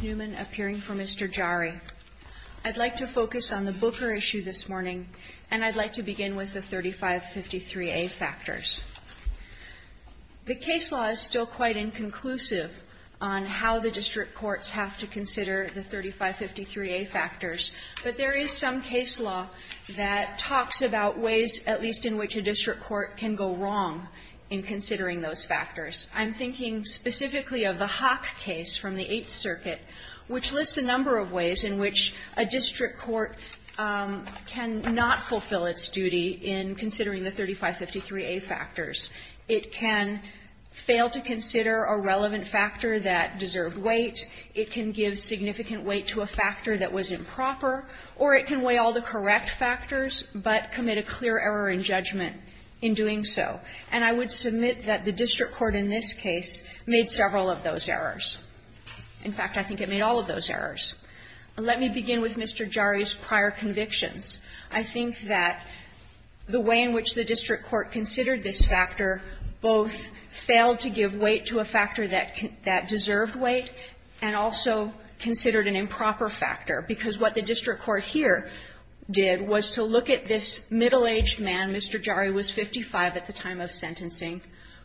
Newman, appearing for Mr. Jari. I'd like to focus on the Booker issue this morning, and I'd like to begin with the 3553A factors. The case law is still quite inconclusive on how the district courts have to consider the 3553A factors, but there is some case law that talks about ways, at least in which a district court can go wrong, and that is that a district court cannot go wrong in considering those factors. I'm thinking specifically of the Hock case from the Eighth Circuit, which lists a number of ways in which a district court cannot fulfill its duty in considering the 3553A factors. It can fail to consider a relevant factor that deserved weight. It can give significant weight to a factor that was improper, or it can weigh all the correct factors, but commit a clear error in judgment in doing so. And I would submit that the district court in this case made several of those errors. In fact, I think it made all of those errors. Let me begin with Mr. Jari's prior convictions. I think that the way in which the district court considered this factor both failed to give weight to a factor that deserved weight and also considered an improper factor, because what the district court here did was to look at this middle-aged man, Mr. Jari was 55 at the time of sentencing,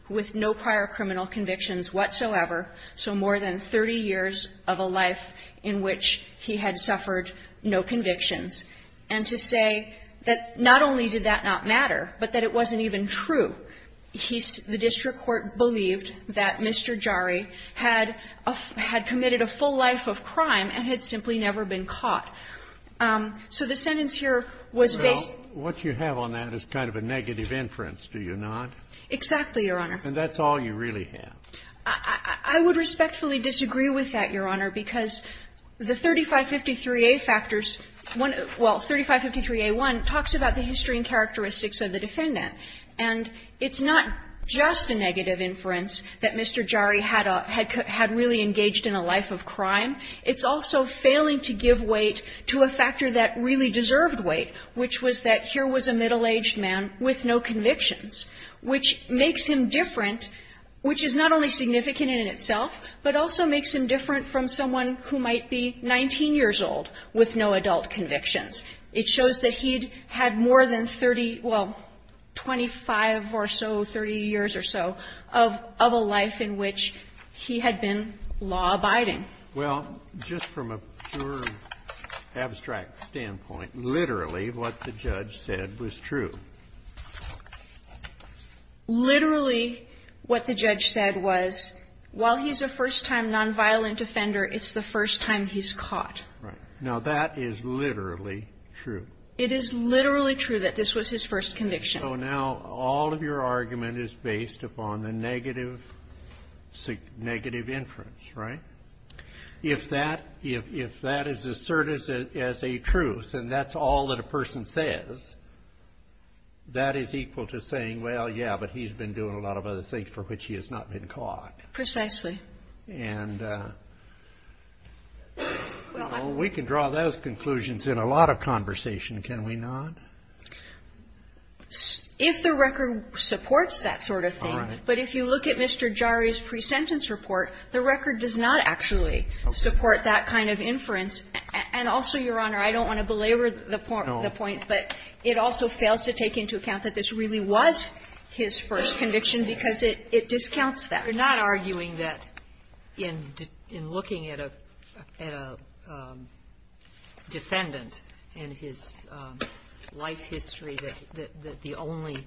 with no prior criminal convictions whatsoever, so more than 30 years of a life in which he had suffered no convictions, and to say that not only did that not matter, but that it wasn't even true. He's the district court believed that Mr. Jari had committed a full life of crime and had simply never been caught. So the sentence here was based on the fact that he had committed a full life of crime. And that's all you really have. I would respectfully disagree with that, Your Honor, because the 3553a factors one of the 3553a1 talks about the history and characteristics of the defendant. And it's not just a negative inference that Mr. Jari had a really engaged in a life of crime. It's also failing to give weight to a factor that really deserved weight, which was that here was a middle-aged man with no convictions, which makes him different, which is not only significant in itself, but also makes him different from someone who might be 19 years old with no adult convictions. It shows that he had more than 30, well, 25 or so, 30 years or so, of a life in which he had been law-abiding. Well, just from a pure abstract standpoint, literally what the judge said was true. Literally what the judge said was, while he's a first-time nonviolent offender, it's the first time he's caught. Right. Now, that is literally true. It is literally true that this was his first conviction. So now, all of your argument is based upon the negative inference, right? If that is asserted as a truth, and that's all that a person says, that is equal to saying, well, yeah, but he's been doing a lot of other things for which he has not been caught. Precisely. And we can draw those conclusions in a lot of conversation, can we not? If the record supports that sort of thing. All right. But if you look at Mr. Jari's pre-sentence report, the record does not actually support that kind of inference. And also, Your Honor, I don't want to belabor the point, but it also fails to take into account that this really was his first conviction because it discounts that. You're not arguing that in looking at a defendant in his life history, that the only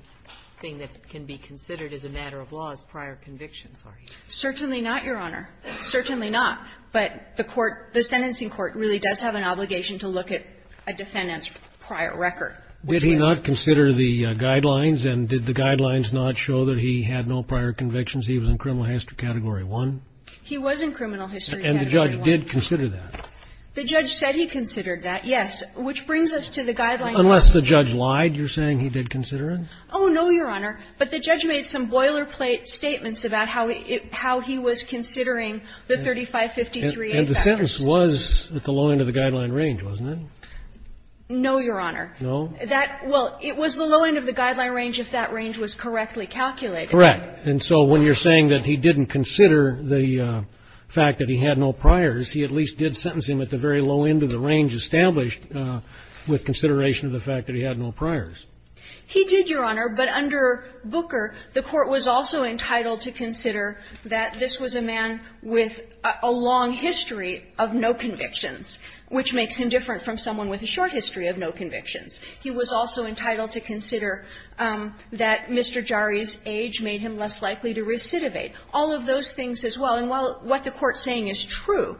thing that can be considered as a matter of law is prior convictions, are you? Certainly not, Your Honor. Certainly not. But the court, the sentencing court really does have an obligation to look at a defendant's prior record. Did he not consider the guidelines, and did the guidelines not show that he had no prior convictions, he was in criminal history category 1? He was in criminal history category 1. And the judge did consider that? The judge said he considered that, yes, which brings us to the guidelines. Unless the judge lied, you're saying he did consider it? Oh, no, Your Honor. But the judge made some boilerplate statements about how he was considering the 3553A factors. And the sentence was at the low end of the guideline range, wasn't it? No, Your Honor. No? That was the low end of the guideline range if that range was correctly calculated. Correct. And so when you're saying that he didn't consider the fact that he had no priors, he at least did sentence him at the very low end of the range established with consideration of the fact that he had no priors. He did, Your Honor, but under Booker, the court was also entitled to consider that this was a man with a long history of no convictions, which makes him different from someone with a short history of no convictions. He was also entitled to consider that Mr. Jari's age made him less likely to recidivate. All of those things as well. And while what the Court's saying is true.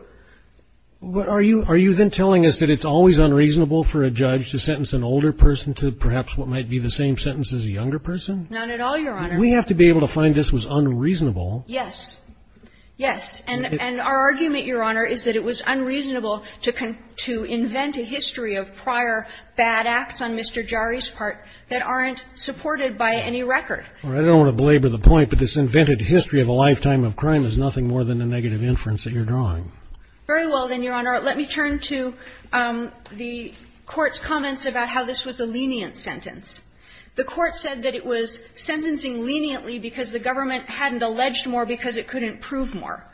Are you then telling us that it's always unreasonable for a judge to sentence an older person to perhaps what might be the same sentence as a younger person? Not at all, Your Honor. We have to be able to find this was unreasonable. Yes. Yes. And our argument, Your Honor, is that it was unreasonable to invent a history of prior bad acts on Mr. Jari's part that aren't supported by any record. Well, I don't want to belabor the point, but this invented history of a lifetime of crime is nothing more than a negative inference that you're drawing. Very well, then, Your Honor. Let me turn to the Court's comments about how this was a lenient sentence. The Court said that it was sentencing leniently because the government hadn't alleged more because it couldn't prove more.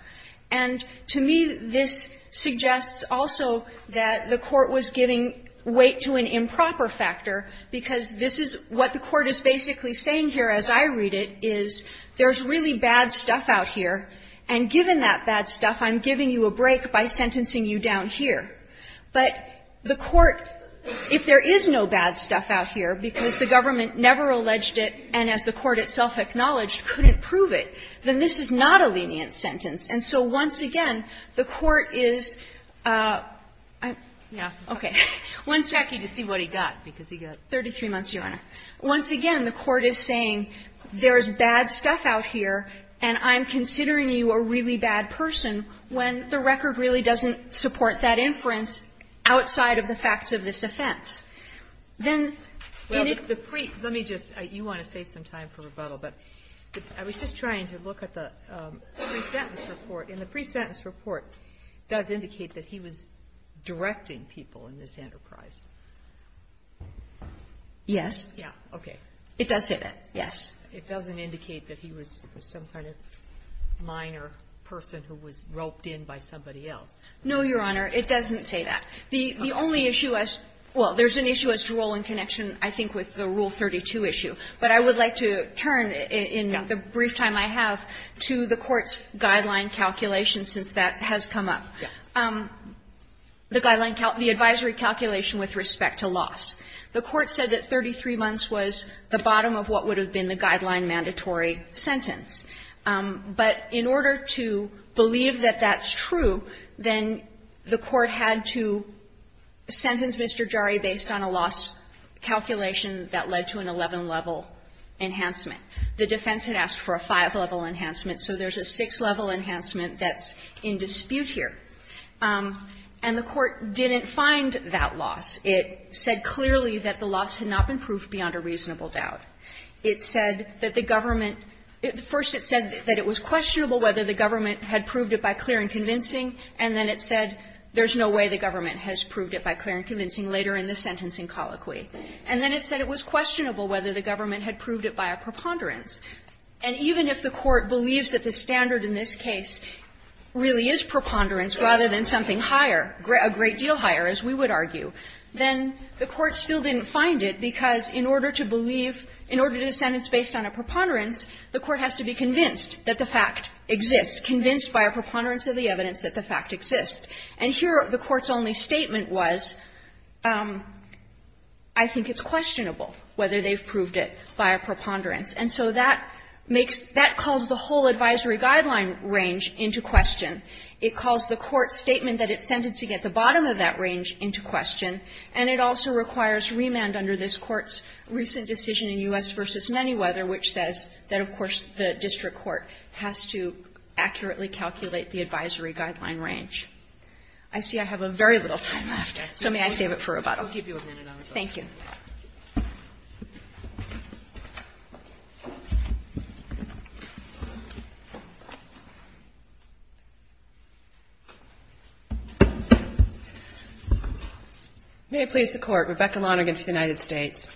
And to me, this suggests also that the Court was giving weight to an improper factor, because this is what the Court is basically saying here as I read it, is there's really bad stuff out here, and given that bad stuff, I'm giving you a break by sentencing you down here. But the Court, if there is no bad stuff out here because the government never alleged it and as the Court itself acknowledged couldn't prove it, then this is not a lenient sentence. And so once again, the Court is – I'm – okay. One second to see what he got, because he got 33 months, Your Honor. Once again, the Court is saying there's bad stuff out here and I'm considering you a really bad person when the record really doesn't support that inference outside of the facts of this offense. Then in it – Well, let me just – you want to save some time for rebuttal, but I was just trying to look at the pre-sentence report, and the pre-sentence report does indicate that he was directing people in this enterprise. Yes. Yeah. Okay. It does say that, yes. It doesn't indicate that he was some kind of minor person who was roped in by somebody else. No, Your Honor, it doesn't say that. The only issue as – well, there's an issue as to role in connection, I think, with the Rule 32 issue. But I would like to turn in the brief time I have to the Court's guideline calculation, since that has come up. The guideline – the advisory calculation with respect to loss. The Court said that 33 months was the bottom of what would have been the guideline mandatory sentence. But in order to believe that that's true, then the Court had to sentence Mr. Jarre based on a loss calculation that led to an 11-level enhancement. The defense had asked for a 5-level enhancement, so there's a 6-level enhancement that's in dispute here. And the Court didn't find that loss. It said clearly that the loss had not been proved beyond a reasonable doubt. It said that the government – first it said that it was questionable whether the government had proved it by clear and convincing, and then it said there's no way the government has proved it by clear and convincing later in the sentencing colloquy. And then it said it was questionable whether the government had proved it by a preponderance. And even if the Court believes that the standard in this case really is preponderance rather than something higher, a great deal higher, as we would argue, then the Court still didn't find it, because in order to believe – in order to sentence based on a preponderance, the Court has to be convinced that the fact exists, convinced by a preponderance of the evidence that the fact exists. And here the Court's only statement was, I think it's questionable whether they've proved it by a preponderance. And so that makes – that calls the whole advisory guideline range into question. It calls the Court's statement that it's sentencing at the bottom of that range into question, and it also requires remand under this Court's recent decision in U.S. v. Manyweather, which says that, of course, the district court has to accurately calculate the advisory guideline range. I see I have very little time left, so may I save it for rebuttal? Thank you. May I please the Court. Rebecca Lonergan for the United States.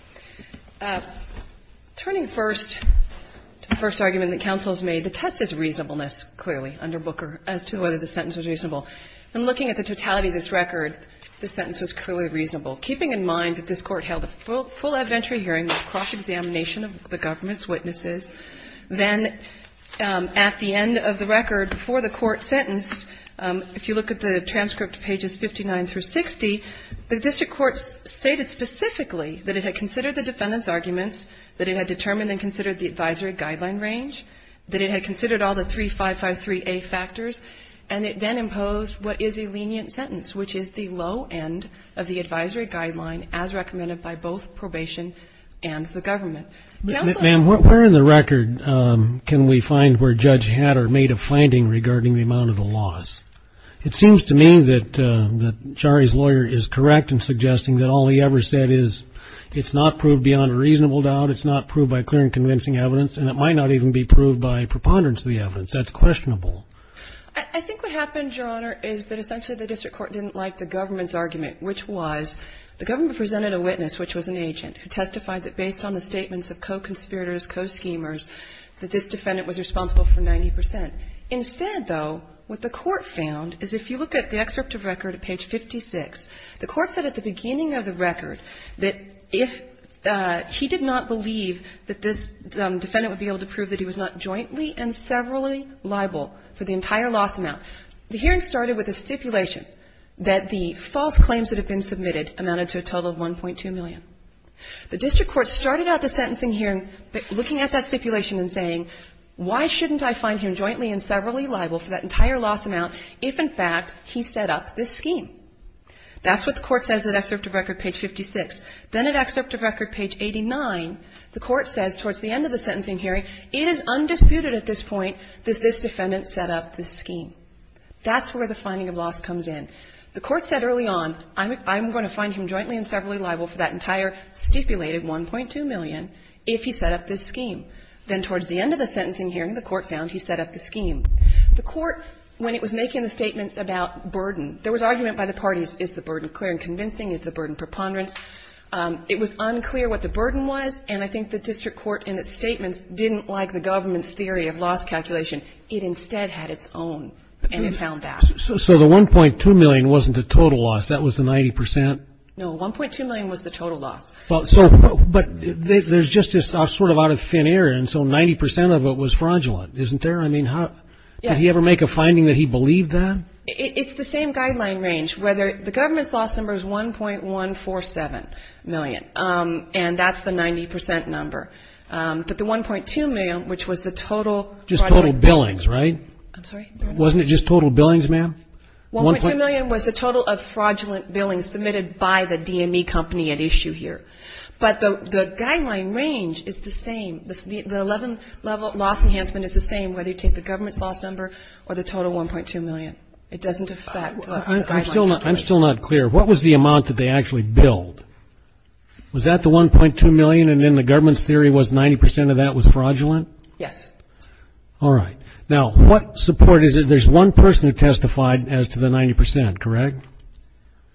Turning first to the first argument that counsel has made, the test is reasonableness, clearly, under Booker, as to whether the sentence was reasonable. In looking at the totality of this record, the sentence was clearly reasonable, keeping in mind that this Court held a full evidentiary hearing, a cross-examination of the government's witnesses. Then at the end of the record, before the Court sentenced, if you look at the transcript pages 59 through 60, the district court stated specifically that it had considered the defendant's arguments, that it had determined and considered the advisory guidelines as recommended by both probation and the government. Counsel? Ma'am, where in the record can we find where Judge Hatter made a finding regarding the amount of the loss? It seems to me that Shari's lawyer is correct in suggesting that all he ever said is it's not proved beyond a reasonable doubt, it's not proved by clear and convincing evidence, and it might not even be proved by preponderance of the evidence. That's questionable. I think what happened, Your Honor, is that essentially the district court didn't like the government's argument, which was the government presented a witness, which was an agent, who testified that based on the statements of co-conspirators, co-schemers, that this defendant was responsible for 90 percent. Instead, though, what the Court found is if you look at the excerpt of record at page 56, the Court said at the beginning of the record that if he did not believe that this defendant would be able to prove that he was not jointly and severally liable for the entire loss amount, the hearing started with a stipulation that the false claims that had been submitted amounted to a total of 1.2 million. The district court started out the sentencing hearing looking at that stipulation and saying, why shouldn't I find him jointly and severally liable for that entire loss amount if, in fact, he set up this scheme? That's what the Court says at excerpt of record page 56. Then at excerpt of record page 89, the Court says towards the end of the sentencing hearing, it is undisputed at this point that this defendant set up this scheme. That's where the finding of loss comes in. The Court said early on, I'm going to find him jointly and severally liable for that entire stipulated 1.2 million if he set up this scheme. Then towards the end of the sentencing hearing, the Court found he set up the scheme. The Court, when it was making the statements about burden, there was argument by the parties, is the burden clear and convincing, is the burden preponderance. It was unclear what the burden was, and I think the district court in its statements didn't like the government's theory of loss calculation. It instead had its own, and it found that. So the 1.2 million wasn't the total loss. That was the 90 percent? No. 1.2 million was the total loss. But there's just this sort of out of thin air, and so 90 percent of it was fraudulent. Isn't there? I mean, did he ever make a finding that he believed that? It's the same guideline range. The government's loss number is 1.147 million, and that's the 90 percent number. But the 1.2 million, which was the total fraudulent. Just total billings, right? I'm sorry? Wasn't it just total billings, ma'am? 1.2 million was the total of fraudulent billings submitted by the DME company at issue here. But the guideline range is the same. The 11-level loss enhancement is the same, whether you take the government's loss number or the total 1.2 million. It doesn't affect the guideline. I'm still not clear. What was the amount that they actually billed? Was that the 1.2 million, and then the government's theory was 90 percent of that was fraudulent? Yes. All right. Now, what support is it? There's one person who testified as to the 90 percent, correct?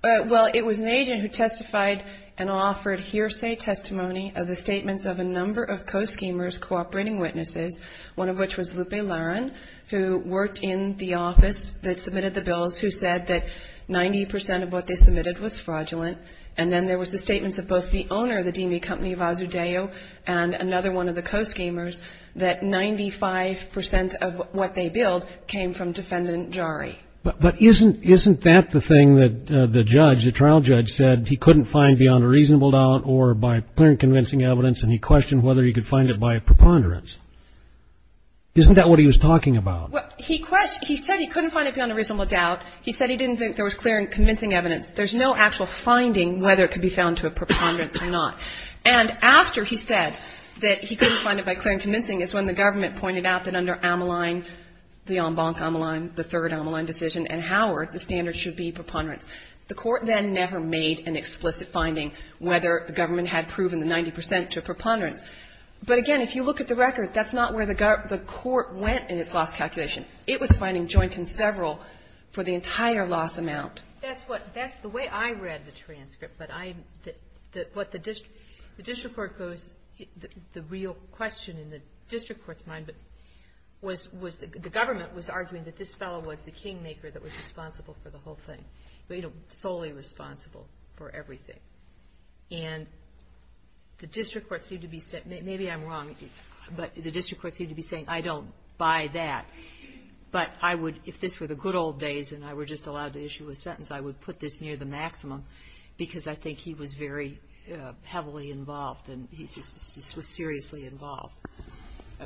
Well, it was an agent who testified and offered hearsay testimony of the statements of a number of co-schemers cooperating witnesses, one of which was Lupe Laron, who worked in the office that submitted the bills, who said that 90 percent of what they submitted was fraudulent. And then there was the statements of both the owner of the DME company, Vasudeo, and another one of the co-schemers, that 95 percent of what they billed came from defendant Jari. But isn't that the thing that the judge, the trial judge, said he couldn't find beyond a reasonable doubt or by clear and convincing evidence, and he questioned whether he could find it by preponderance? Isn't that what he was talking about? Well, he said he couldn't find it beyond a reasonable doubt. He said he didn't think there was clear and convincing evidence. There's no actual finding whether it could be found to a preponderance or not. And after he said that he couldn't find it by clear and convincing, is when the government pointed out that under Ammaline, the en banc Ammaline, the third Ammaline decision, and Howard, the standard should be preponderance. The court then never made an explicit finding whether the government had proven the 90 percent to a preponderance. But again, if you look at the record, that's not where the court went in its loss calculation. It was finding joint and several for the entire loss amount. That's what, that's the way I read the transcript. But I, what the district, the district court goes, the real question in the district court's mind was, was the government was arguing that this fellow was the kingmaker that was responsible for the whole thing, you know, solely responsible for everything. And the district court seemed to be, maybe I'm wrong, but the district court seemed to be saying I don't buy that, but I would, if this were the good old days and I were just allowed to issue a sentence, I would put this near the maximum because I think he was very heavily involved and he just was seriously involved.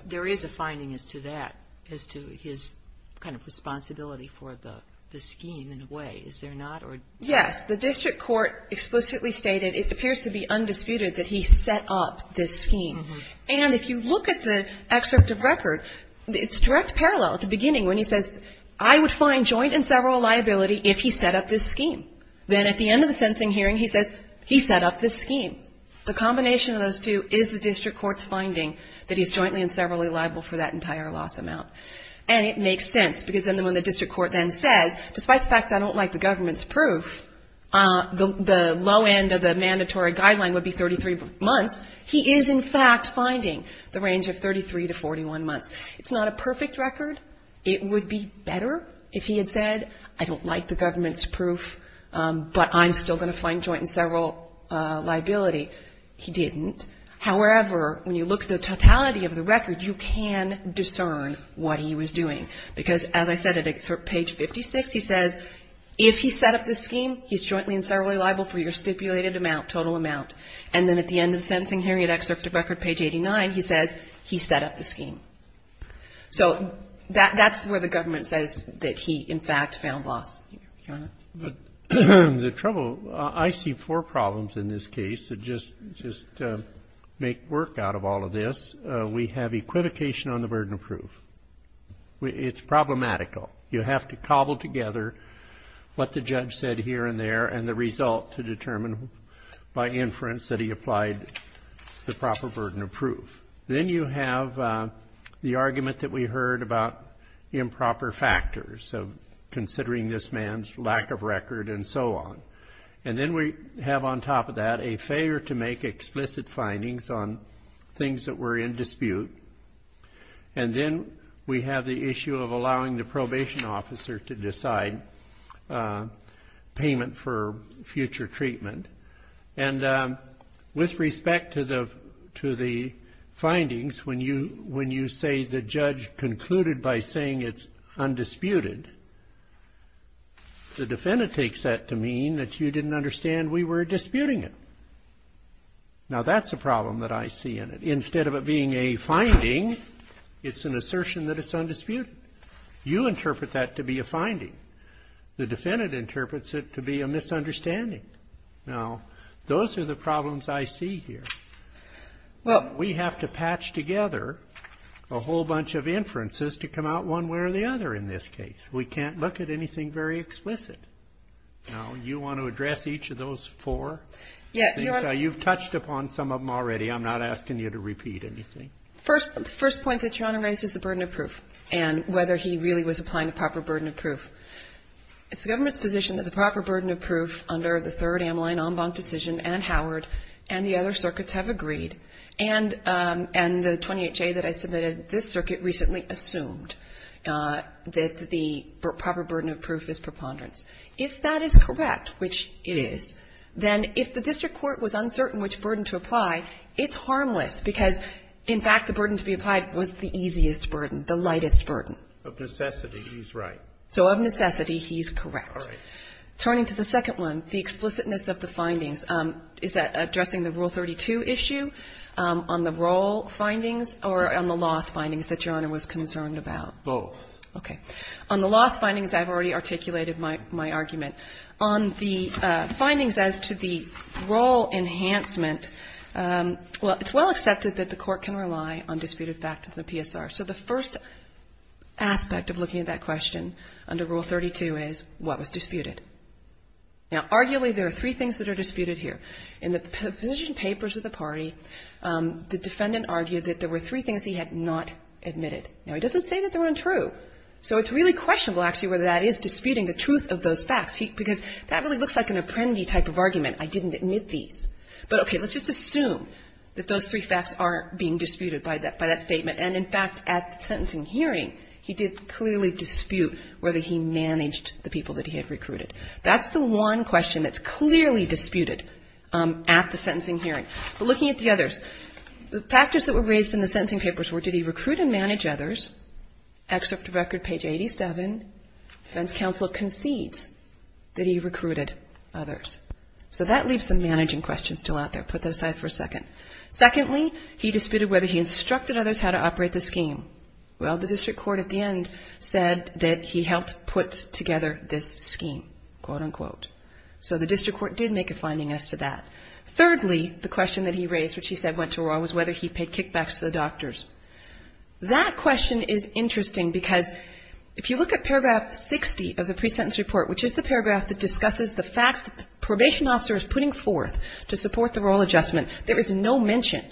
There is a finding as to that, as to his kind of responsibility for the scheme in a way. Is there not? Or? Yes. The district court explicitly stated, it appears to be undisputed that he set up this scheme. And if you look at the excerpt of record, it's direct parallel at the beginning when he says, I would find joint and several liability if he set up this scheme. Then at the end of the sentencing hearing, he says, he set up this scheme. The combination of those two is the district court's finding that he's jointly and several liable for that entire loss amount. And it makes sense because then when the district court then says, despite the fact I don't like the government's proof, the low end of the mandatory guideline would be 33 months, he is in fact finding the range of 33 to 41 months. It's not a perfect record. It would be better if he had said, I don't like the government's proof, but I'm still going to find joint and several liability. He didn't. However, when you look at the totality of the record, you can discern what he was doing. Because as I said, at excerpt page 56, he says, if he set up this scheme, he's jointly and several liable for your stipulated amount, total amount. And then at the end of the sentencing hearing at excerpt of record page 89, he says, he set up the scheme. So that's where the government says that he, in fact, found loss. The trouble, I see four problems in this case that just make work out of all of this. We have equivocation on the burden of proof. It's problematical. You have to cobble together what the judge said here and there and the result to determine by inference that he applied the proper burden of proof. Then you have the argument that we heard about improper factors of considering this man's lack of record and so on. And then we have on top of that a failure to make explicit findings on things that were in dispute. And then we have the issue of allowing the probation officer to decide payment for future treatment. And with respect to the findings, when you say the judge concluded by saying it's undisputed, the defendant takes that to mean that you didn't understand we were disputing it. Now, that's a problem that I see in it. Instead of it being a finding, it's an assertion that it's undisputed. You interpret that to be a finding. The defendant interprets it to be a misunderstanding. Now, those are the problems I see here. Well, we have to patch together a whole bunch of inferences to come out one way or the other in this case. We can't look at anything very explicit. Now, you want to address each of those four? You've touched upon some of them already. I'm not asking you to repeat anything. First point that Your Honor raised is the burden of proof and whether he really was applying the proper burden of proof. It's the government's position that the proper burden of proof under the third Ameline en banc decision and Howard and the other circuits have agreed. And the 20HA that I submitted, this circuit recently assumed that the proper burden of proof is preponderance. If that is correct, which it is, then if the district court was uncertain which burden to apply, it's harmless because, in fact, the burden to be applied was the easiest burden, the lightest burden. Of necessity, he's right. So of necessity, he's correct. Turning to the second one, the explicitness of the findings, is that addressing the Rule 32 issue on the role findings or on the loss findings that Your Honor was concerned about? Both. Okay. On the loss findings, I've already articulated my argument. On the findings as to the role enhancement, well, it's well accepted that the court can rely on disputed facts of the PSR. So the first aspect of looking at that question under Rule 32 is what was disputed? Now, arguably, there are three things that are disputed here. In the position papers of the party, the defendant argued that there were three things he had not admitted. Now, he doesn't say that they're untrue. So it's really questionable, actually, whether that is disputing the truth of those facts because that really looks like an apprendee type of argument. I didn't admit these. But, okay, let's just assume that those three facts are being disputed by that statement. And, in fact, at the sentencing hearing, he did clearly dispute whether he managed the people that he had recruited. That's the one question that's clearly disputed at the sentencing hearing. But looking at the others, the factors that were raised in the sentencing papers were, did he recruit and manage others? Excerpt to record page 87, defense counsel concedes that he recruited others. So that leaves the managing question still out there. Put that aside for a second. Secondly, he disputed whether he instructed others how to operate the scheme. Well, the district court at the end said that he helped put together this scheme, quote unquote. So the district court did make a finding as to that. Thirdly, the question that he raised, which he said went to Roy, was whether he paid kickbacks to the doctors. That question is interesting because if you look at paragraph 60 of the pre-sentence report, which is the paragraph that discusses the facts that the no mention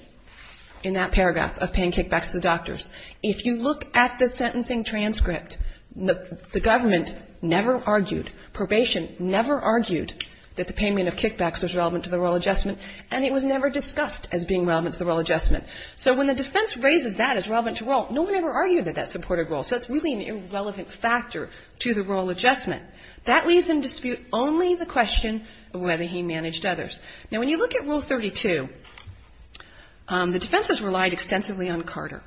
in that paragraph of paying kickbacks to the doctors. If you look at the sentencing transcript, the government never argued, probation never argued that the payment of kickbacks was relevant to the role adjustment, and it was never discussed as being relevant to the role adjustment. So when the defense raises that as relevant to role, no one ever argued that that supported role. So it's really an irrelevant factor to the role adjustment. That leaves in dispute only the question of whether he managed others. Now, when you look at Rule 32, the defense has relied extensively on Carter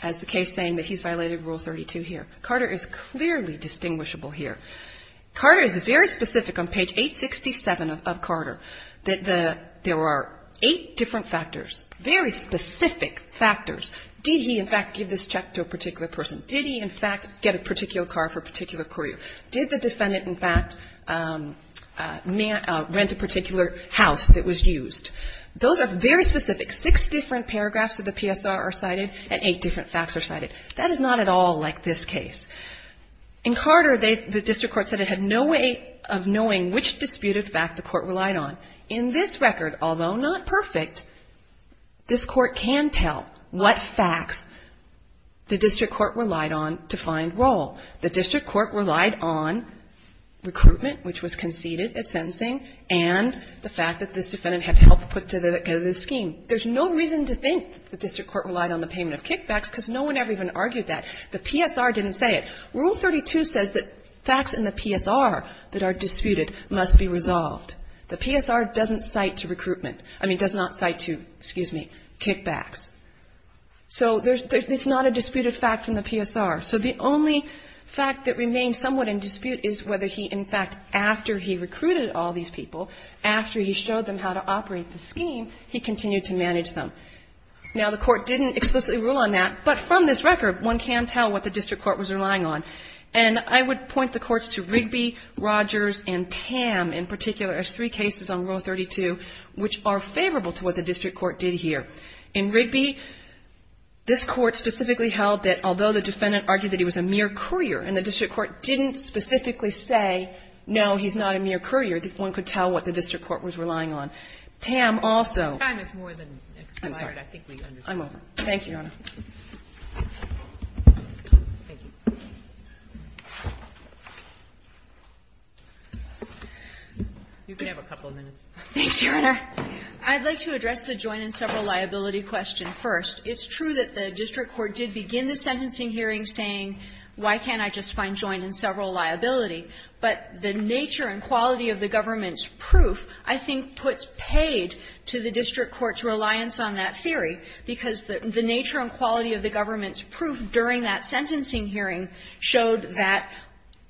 as the case saying that he's violated Rule 32 here. Carter is clearly distinguishable here. Carter is very specific on page 867 of Carter that there are eight different factors, very specific factors. Did he, in fact, give this check to a particular person? Did he, in fact, get a particular car for a particular courier? Did the defendant, in fact, rent a particular house that was used? Those are very specific. Six different paragraphs of the PSR are cited and eight different facts are cited. That is not at all like this case. In Carter, the district court said it had no way of knowing which disputed fact the court relied on. In this record, although not perfect, this court can tell what facts the district court relied on to find role. The district court relied on recruitment, which was conceded at sentencing, and the fact that this defendant had help put together this scheme. There's no reason to think the district court relied on the payment of kickbacks because no one ever even argued that. The PSR didn't say it. Rule 32 says that facts in the PSR that are disputed must be resolved. The PSR doesn't cite to recruitment. I mean, does not cite to, excuse me, kickbacks. So it's not a disputed fact from the PSR. So the only fact that remains somewhat in dispute is whether he, in fact, after he recruited all these people, after he showed them how to operate the scheme, he continued to manage them. Now, the court didn't explicitly rule on that, but from this record, one can tell what the district court was relying on. And I would point the courts to Rigby, Rogers, and Tam in particular as three cases on Rule 32, which are favorable to what the district court did here. In Rigby, this Court specifically held that although the defendant argued that he was a mere courier and the district court didn't specifically say, no, he's not a mere courier, this one could tell what the district court was relying on. Tam also ---- Time is more than expired. I'm sorry. I think we understood. I'm over. Thank you, Your Honor. Thank you. You can have a couple of minutes. Thanks, Your Honor. I'd like to address the joint and several liability question first. It's true that the district court did begin the sentencing hearing saying, why can't I just find joint and several liability? But the nature and quality of the government's proof, I think, puts paid to the district court's reliance on that theory, because the nature and quality of the government's proof during that sentencing hearing showed that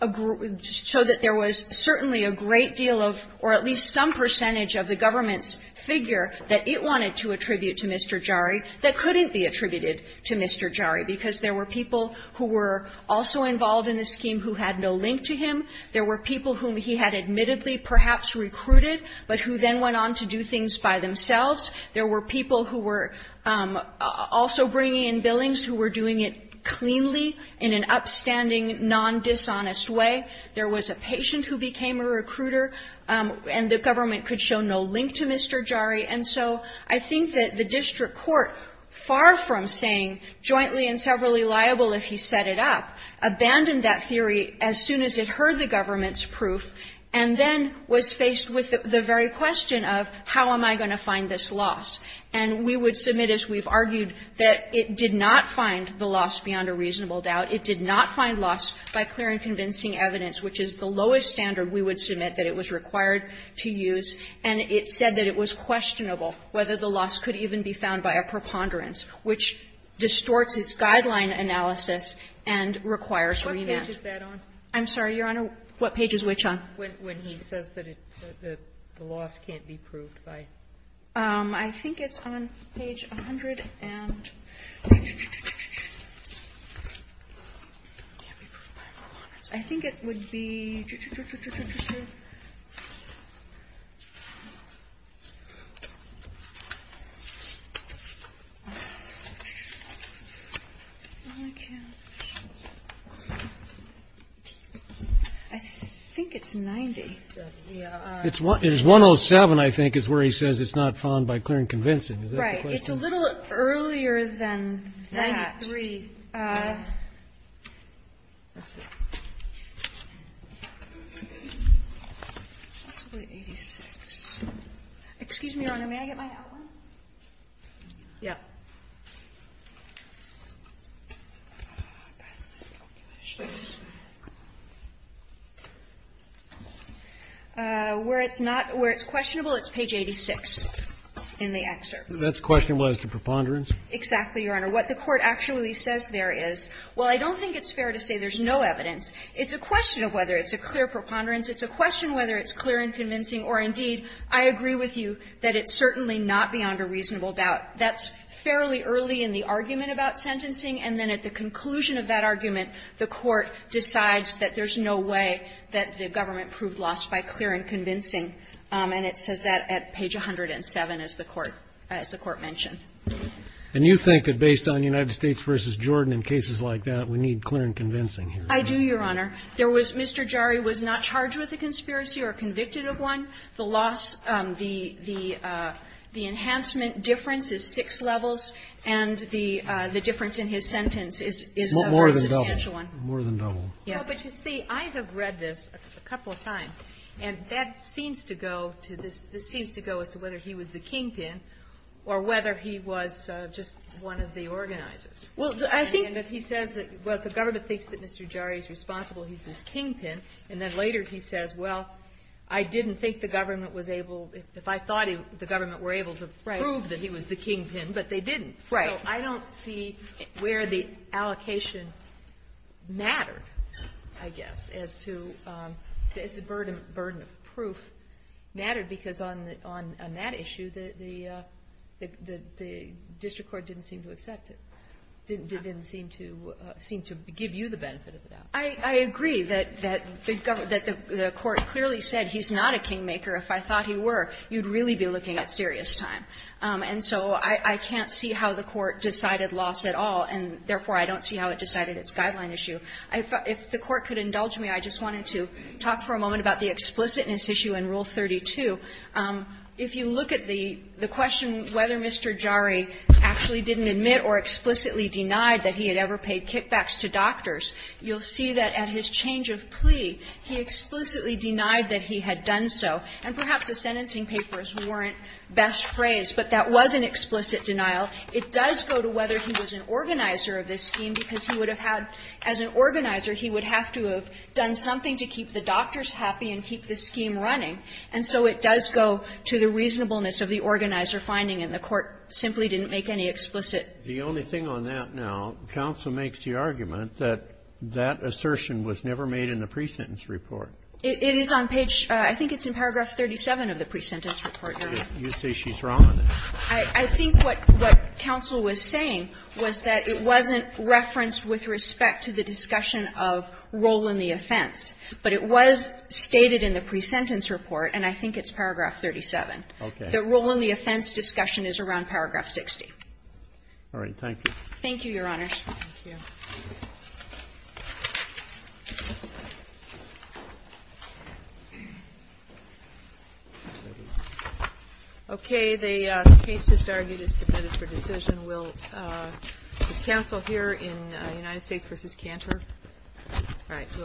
a group of ---- showed that there was certainly a great deal of, or at least some percentage of the government's figure that it wanted to attribute to Mr. Jari that couldn't be attributed to Mr. Jari, because there were people who were also involved in the scheme who had no link to him. There were people whom he had admittedly perhaps recruited, but who then went on to do things by themselves. There were people who were also bringing in billings who were doing it cleanly in an upstanding, nondishonest way. There was a patient who became a recruiter, and the government could show no link to Mr. Jari. And so I think that the district court, far from saying jointly and severally liable if he set it up, abandoned that theory as soon as it heard the government's proof, and then was faced with the very question of how am I going to find this loss. And we would submit, as we've argued, that it did not find the loss beyond a reasonable doubt. It did not find loss by clear and convincing evidence, which is the lowest standard we would submit that it was required to use. And it said that it was questionable whether the loss could even be found by a preponderance, which distorts its guideline analysis and requires remand. Sotomayor, I'm sorry, Your Honor, what page is which on? Sotomayor, when he says that the loss can't be proved by? I think it's on page 100. And I think it would be I think it's 90. It's 107, I think, is where he says it's not found by clear and convincing. Is that the question? Right. It's a little earlier than that. 93. Possibly 86. Excuse me, Your Honor, may I get my outline? Yeah. Where it's not, where it's questionable, it's page 86 in the excerpt. That's questionable as to preponderance? Exactly, Your Honor. What the Court actually says there is, while I don't think it's fair to say there's no evidence, it's a question of whether it's a clear preponderance, it's a question whether it's clear and convincing, or indeed, I agree with you that it's certainly not beyond a reasonable doubt. That's fairly early in the argument about sentencing, and then at the conclusion of that argument, the Court decides that there's no way that the government proved loss by clear and convincing. And it says that at page 107, as the Court mentioned. And you think that based on United States v. Jordan and cases like that, we need clear and convincing here? I do, Your Honor. There was Mr. Jari was not charged with a conspiracy or convicted of one. The loss, the enhancement difference is six levels, and the difference in his sentence is a substantial one. More than double. More than double, yes. But you see, I have read this a couple of times, and that seems to go to this seems to go as to whether he was the kingpin or whether he was just one of the organizers. Well, I think that he says that, well, the government thinks that Mr. Jari is responsible. He's his kingpin. And then later he says, well, I didn't think the government was able, if I thought the government were able to prove that he was the kingpin, but they didn't. So I don't see where the allocation mattered, I guess, as to, as the burden of proof mattered, because on that issue, the district court didn't seem to accept it, didn't I agree that the court clearly said he's not a kingmaker. If I thought he were, you'd really be looking at serious time. And so I can't see how the court decided loss at all, and therefore, I don't see how it decided its guideline issue. If the court could indulge me, I just wanted to talk for a moment about the explicitness issue in Rule 32. If you look at the question whether Mr. Jari actually didn't admit or explicitly denied that he had ever paid kickbacks to doctors, you'll see that at his change of plea, he explicitly denied that he had done so. And perhaps the sentencing papers weren't best phrased, but that was an explicit denial. It does go to whether he was an organizer of this scheme, because he would have had as an organizer, he would have to have done something to keep the doctors happy and keep the scheme running. And so it does go to the reasonableness of the organizer finding, and the court simply didn't make any explicit. The only thing on that now, counsel makes the argument that that assertion was never made in the pre-sentence report. It is on page, I think it's in paragraph 37 of the pre-sentence report, Your Honor. You say she's wrong on that. I think what counsel was saying was that it wasn't referenced with respect to the discussion of role in the offense. But it was stated in the pre-sentence report, and I think it's paragraph 37. Okay. The role in the offense discussion is around paragraph 60. All right. Thank you. Thank you, Your Honor. Thank you. Okay. The case just argued is submitted for decision. Will this counsel here in United States v. Cantor? All right. We'll